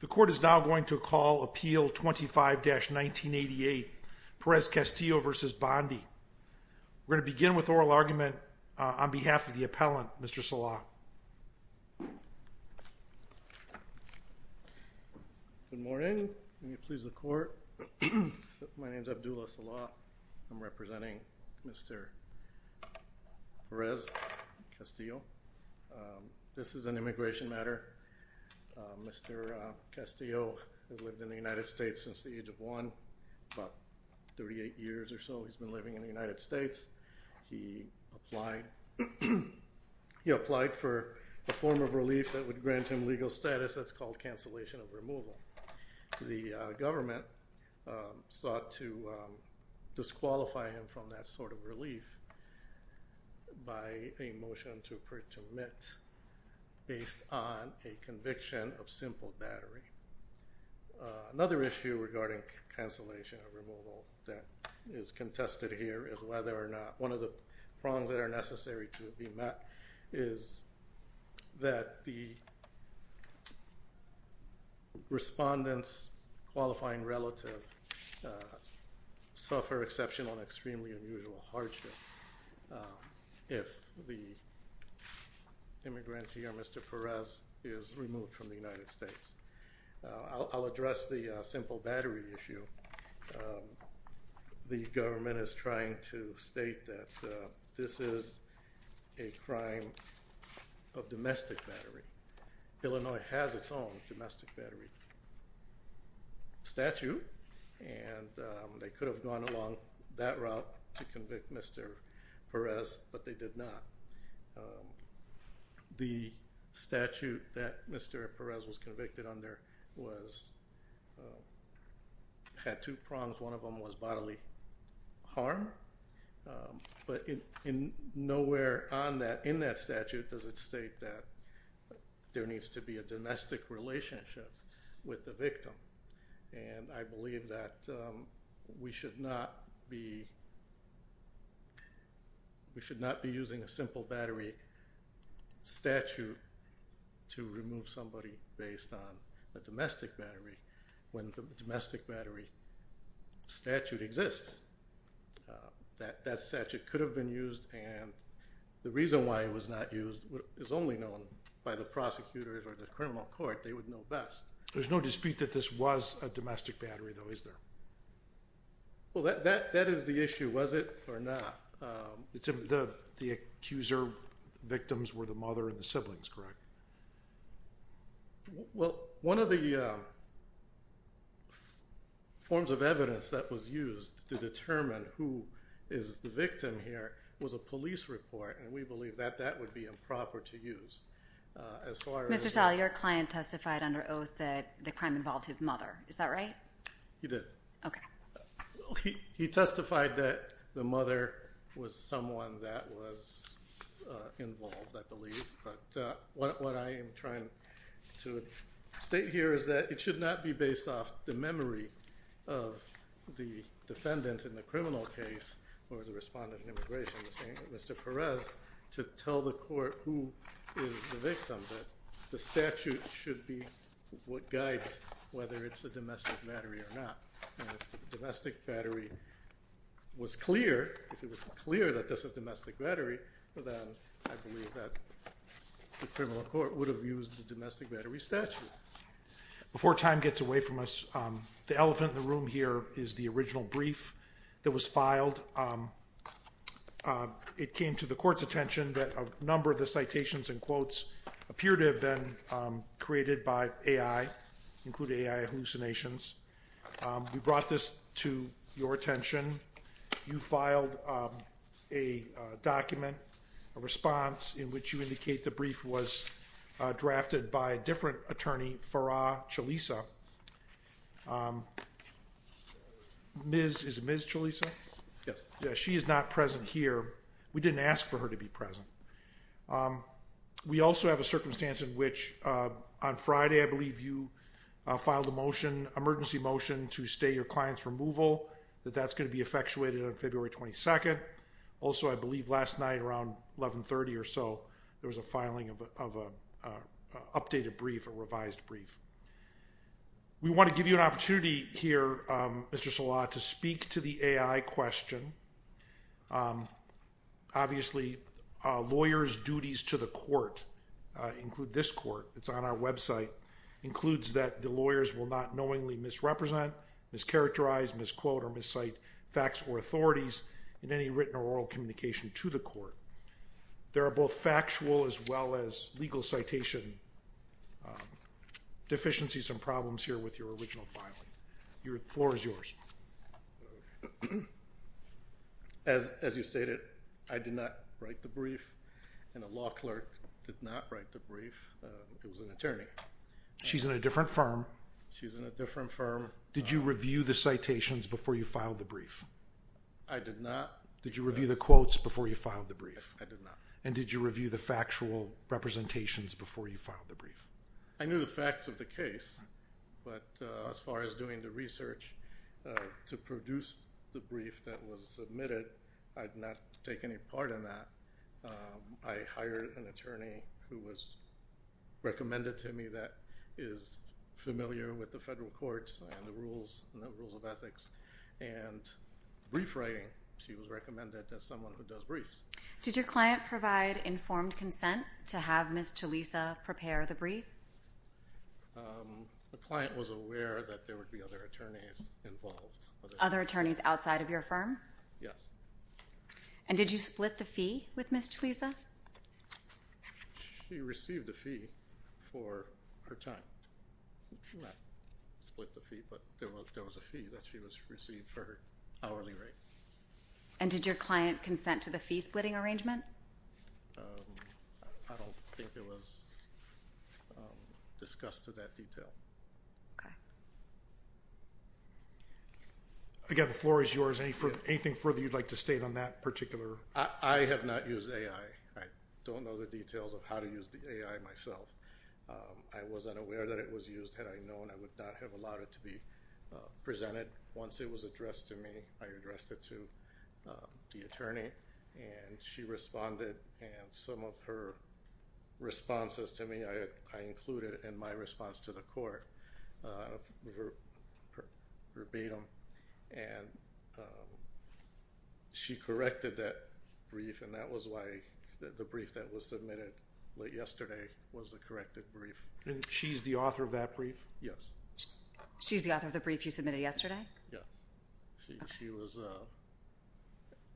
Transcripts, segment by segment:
The court is now going to call appeal 25-1988 Perez-Castillo v. Bondi. We're going to begin with oral argument on behalf of the appellant Mr. Salah. Good morning, may it please the court. My name is Abdullah Salah. I'm representing Mr. Perez-Castillo. This is an immigration matter. Mr. Castillo has lived in the United States since the age of one, about 38 years or so. He's been living in the United States. He applied for a form of relief that would grant him legal status that's called cancellation of removal. The government sought to disqualify him from that sort of relief by a motion to permit based on a conviction of simple battery. Another issue regarding cancellation of removal that is contested here is whether or not one of the prongs that are necessary to be met is that the respondent's qualifying relative suffer exceptional and extremely unusual hardship if the immigrant here, Mr. Perez, is removed from the United States. I'll address the simple battery issue. The government is trying to state that this is a crime of domestic battery. Illinois has its own domestic battery statute and they could have gone along that route to convict Mr. Perez, but they did not. The person that Mr. Perez was convicted under had two prongs. One of them was bodily harm, but nowhere in that statute does it state that there needs to be a domestic relationship with the victim. I believe that we should not be using a simple battery statute to remove somebody based on a domestic battery when the domestic battery statute exists. That statute could have been used and the reason why it was not used is only known by the prosecutors or the criminal court. They would know best. There's no dispute that this was a domestic battery though, is there? Well, that is the issue, was it or not. The accuser victims were the mother and the siblings, correct? Well, one of the forms of evidence that was used to determine who is the victim here was a police report and we believe that that would be improper to use. Mr. Sal, your client testified under oath that the crime involved his mother, is that right? He did. He testified that the mother was someone that was involved, I believe, but what I am trying to state here is that it should not be based off the memory of the defendant in the criminal case or the respondent in immigration, Mr. Perez, to tell the court who is the victim. The statute should be what guides whether it's a domestic battery or not. If the domestic battery was clear, if it was clear that this is a domestic battery, then I believe that the criminal court would have used the domestic battery statute. Before time gets away from us, the elephant in the room here is the original brief that was filed. It came to the court's attention that a misdemeanor had been created by AI, including AI hallucinations. We brought this to your attention. You filed a document, a response, in which you indicate the brief was drafted by a different attorney, Farah Chalisa. Is it Ms. Chalisa? Yes. She is not present here. We didn't ask for her to be present. We also have a circumstance in which on Friday, I believe you filed a motion, emergency motion, to stay your client's removal, that that's going to be effectuated on February 22nd. Also, I believe last night around 1130 or so, there was a filing of an updated brief, a revised brief. We want to give you an opportunity here, Mr. Sola, to speak to the AI question. Obviously, lawyers' duties to the court include this court. It's on our website. It includes that the lawyers will not knowingly misrepresent, mischaracterize, misquote, or miscite facts or authorities in any written or oral communication to the court. There are both factual as well as legal citation deficiencies and problems here with your original filing. The floor is yours. As you stated, I did not write the brief and a law clerk did not write the brief. It was an attorney. She's in a different firm. She's in a different firm. Did you review the citations before you filed the brief? I did not. Did you review the quotes before you filed the brief? I did not. Did you review the factual representations before you filed the brief? I knew the facts of the case, but as far as doing the research to produce the brief that was submitted, I did not take any part in that. I hired an attorney who was recommended to me that is familiar with the federal courts and the rules of ethics and brief writing. She was recommended as someone who does brief? The client was aware that there would be other attorneys involved. Other attorneys outside of your firm? Yes. And did you split the fee with Ms. Tulisa? She received the fee for her time. She did not split the fee, but there was a fee that she received for her hourly rate. And did your client consent to the fee splitting arrangement? I don't think it was discussed to that detail. Okay. Again, the floor is yours. Anything further you'd like to state on that particular? I have not used AI. I don't know the details of how to use the AI myself. I wasn't aware that it was used. Had I known, I would not have allowed it to be presented. Once it was addressed to me, I addressed it to the attorney, and she responded. And some of her responses to me, I included in my response to the court verbatim. And she corrected that brief, and that was why the brief that was submitted late yesterday was the corrected brief. And she's the author of that brief? Yes. She's the author of the brief you submitted yesterday? Yes. She was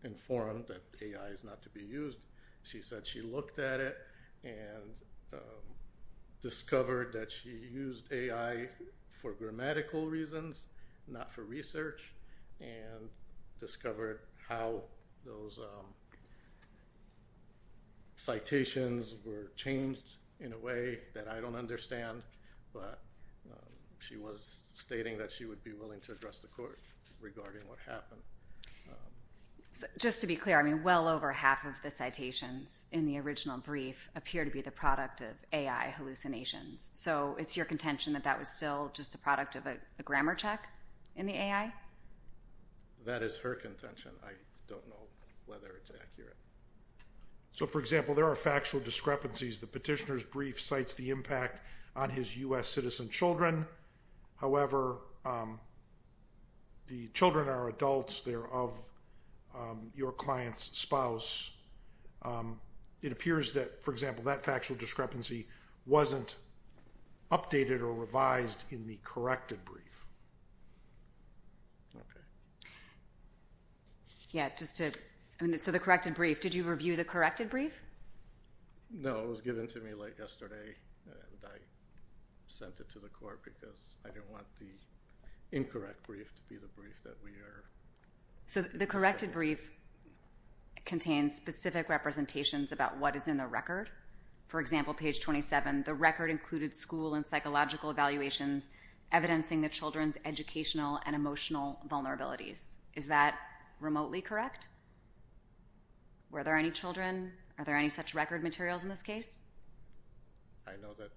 informed that AI is not to be used. She said she looked at it and discovered that she used AI for grammatical reasons, not for research, and discovered how those citations were changed in a way that I don't understand, but she was stating that she would be willing to address the court regarding what happened. Just to be clear, I mean, well over half of the citations in the original brief appear to be the product of AI hallucinations. So it's your contention that that was still just a product of a grammar check in the AI? That is her contention. I don't know whether it's accurate. So for example, there are his U.S. citizen children. However, the children are adults. They're of your client's spouse. It appears that, for example, that factual discrepancy wasn't updated or revised in the corrected brief. So the corrected brief, did you review the corrected brief? No, it was given to me late yesterday, and I sent it to the court because I didn't want the incorrect brief to be the brief that we are— So the corrected brief contains specific representations about what is in the record. For example, page 27, the record included school and psychological evaluations evidencing the children's educational and emotional vulnerabilities. Is that remotely correct? Were there any children? Are there any such record materials in this case? I know that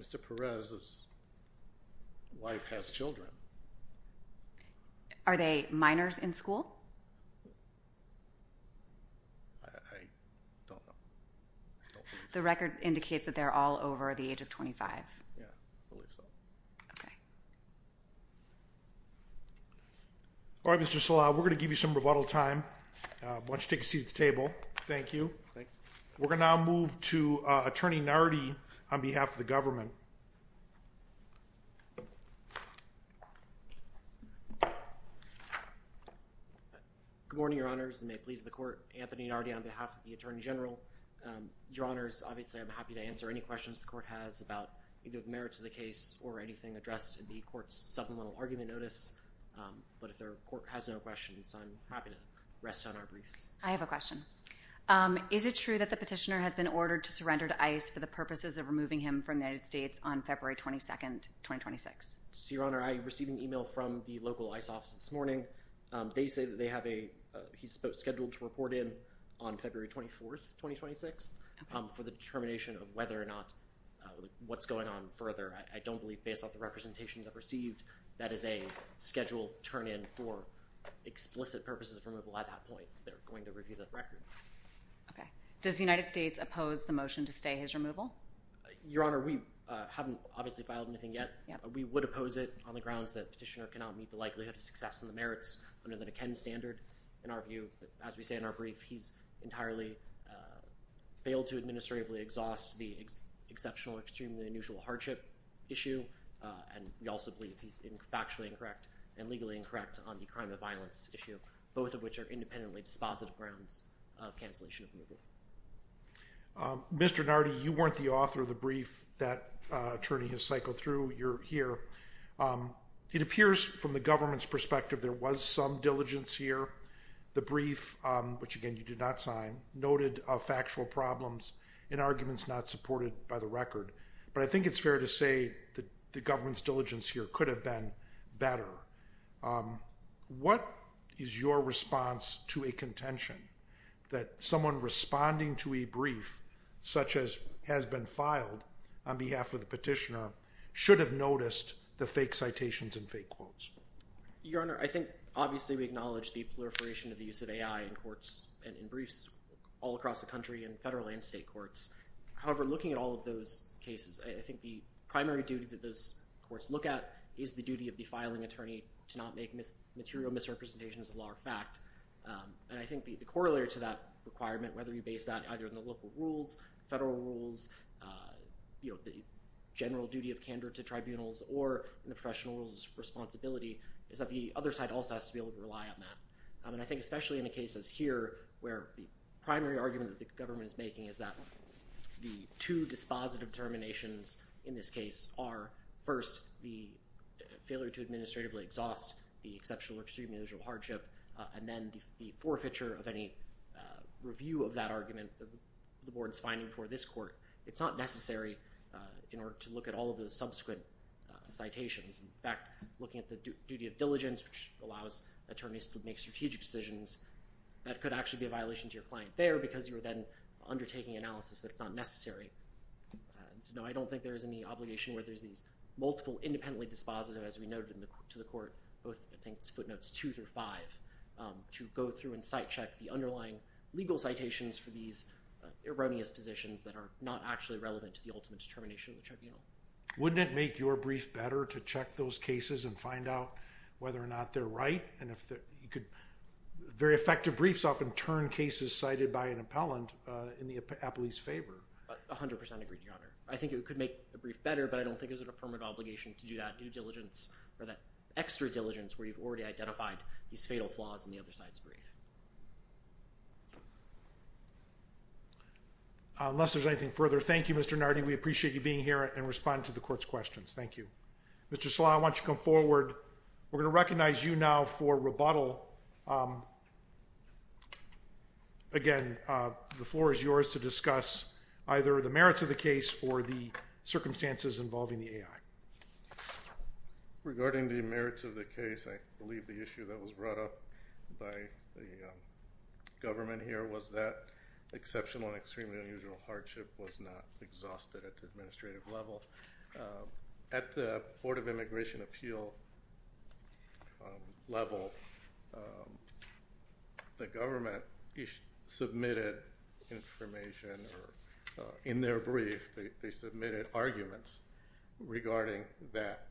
Mr. Perez's wife has children. Are they minors in school? I don't know. The record indicates that they're all over the age of 25. Yeah, I believe so. All right, Mr. Sala, we're going to give you some rebuttal time. Why don't you take a seat at the table? Thank you. Thanks. We're going to now move to Attorney Nardi on behalf of the government. Good morning, Your Honors, and may it please the Court, Anthony Nardi on behalf of the Attorney General. Your Honors, obviously I'm happy to answer any questions the Court has about either the merits of the case or anything addressed in the Court's supplemental argument notice. But if the Court has no questions, I'm happy to rest on our briefs. I have a question. Is it true that the petitioner has been ordered to surrender to ICE for the purposes of removing him from the United States on February 22nd, 2026? Your Honor, I received an email from the local ICE office this morning. They say that they have a – he's scheduled to report in on February 24th, 2026, for the determination of whether or not – what's going on further. I don't believe, based on the representations I've received, that is a scheduled turn in for explicit purposes of removal at that point. But they're going to review the record. Okay. Does the United States oppose the motion to stay his removal? Your Honor, we haven't obviously filed anything yet. We would oppose it on the grounds that the petitioner cannot meet the likelihood of success in the merits under the McKenna standard. In our view, as we say in our brief, he's entirely failed to administratively exhaust the exceptional, extremely unusual hardship issue. And we also believe he's factually incorrect and legally incorrect on the crime of violence issue, both of which are independently dispositive grounds of cancellation of removal. Mr. Nardi, you weren't the author of the brief that attorney has cycled through. You're here. It appears from the government's perspective there was some diligence here. The brief, which again you did not sign, noted factual problems and arguments not supported by the record. But I think it's fair to say that the government's diligence here could have been better. What is your response to a contention that someone responding to a brief such as has been filed on behalf of the petitioner should have noticed the fake citations and fake quotes? Your Honor, I think obviously we acknowledge the proliferation of the use of AI in courts and in briefs all across the country and federal and state courts. However, looking at all of those cases, I think the primary duty that those courts look at is the duty of the filing attorney to not make material misrepresentations of law or fact. And I think the corollary to that requirement, whether you base that either on the local rules, federal rules, the general duty of candor to tribunals, or the professional's responsibility, is that the other side also has to be able to rely on that. And I think especially in the cases here where the primary argument that the government is making is that the two dispositive determinations in this case are, first, the failure to administratively exhaust the exceptional or extremely unusual hardship, and then the forfeiture of any review of that argument, the board's finding for this court. It's not necessary in order to look at all of the subsequent citations. In fact, looking at the duty of diligence, which allows attorneys to make strategic decisions, that could actually be a violation to your client there because you're then undertaking analysis that's not necessary. So no, I don't think there is any obligation where there's these multiple independently dispositive, as we noted to the court, both I think footnotes two through five, to go through and site check the underlying legal citations for these erroneous positions that are not actually relevant to the ultimate determination of the tribunal. Wouldn't it make your brief better to check those cases and find out whether or not they're right? Very effective briefs often turn cases cited by an appellant in the appellee's favor. A hundred percent agree, Your Honor. I think it could make the brief better, but I don't think it's a permanent obligation to do that due diligence or that extra diligence where you've already identified these fatal flaws in the other side's brief. Unless there's anything further, thank you, Mr. Nardi. We appreciate you being here and responding to the court's questions. Thank you. Mr. Slaw, I want you to come forward. We're going to recognize you now for rebuttal. Again, the floor is yours to discuss either the merits of the case or the circumstances involving the AI. Regarding the merits of the case, I believe the issue that was brought up by the government here was that exceptional and extremely unusual hardship was not exhausted at the administrative level. At the Board of Immigration Appeal level, the government submitted information in their brief. They submitted arguments regarding that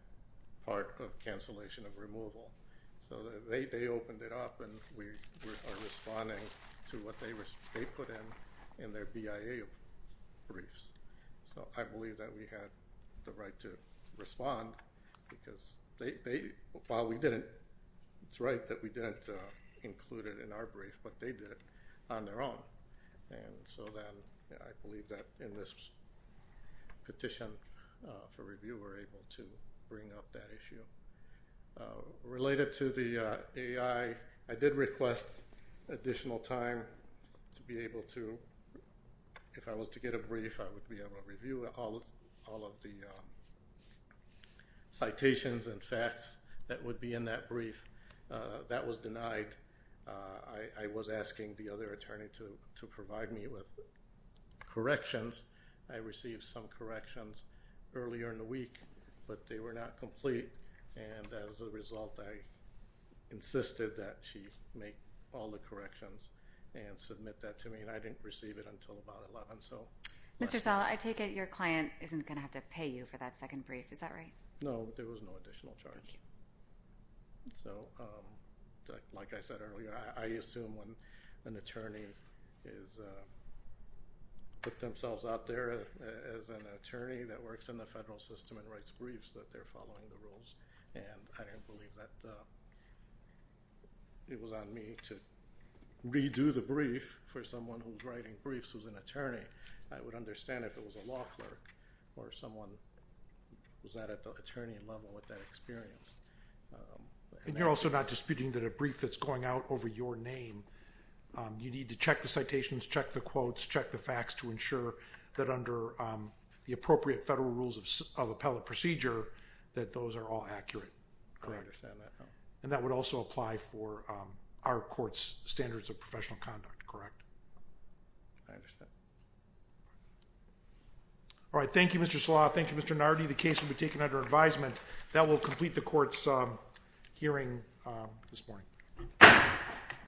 part of cancellation of removal. They opened it up and we are responding to what they put in their BIA briefs. I believe that we had the right to respond because while we didn't, it's right that we didn't include it in our brief, but they did it on their own. I believe that in this petition for review, we're able to bring up that issue. Related to the AI, I did request additional time to be able to, if I was to get a brief, I would be able to review all of the citations and facts that would be in that brief. That was denied. I was asking the other attorney to provide me with corrections. I received some corrections earlier in the week, but they were not complete. As a result, I insisted that she make all the corrections and submit that to me. I didn't receive it until about 11. Mr. Sal, I take it your client isn't going to have to pay you for that second brief. Is that right? No, there was no additional charge. Like I said earlier, I assume when an attorney puts themselves out there as an attorney that works in the federal system and writes briefs that they're following the rules. I didn't believe that it was on me to redo the brief for someone who's writing briefs who's an attorney. I would understand if it was a law clerk or someone who's not at the attorney level with that experience. You're also not disputing that a brief that's going out over your name, you need to check the citations, check the quotes, check the facts to ensure that under the appropriate federal rules of appellate procedure, that those are all accurate. I understand that. That would also apply for our court's standards of professional conduct, correct? I understand. All right. Thank you, Mr. Slaw. Thank you, Mr. Nardi. The case will be taken under advisement. That will complete the court's hearing this morning.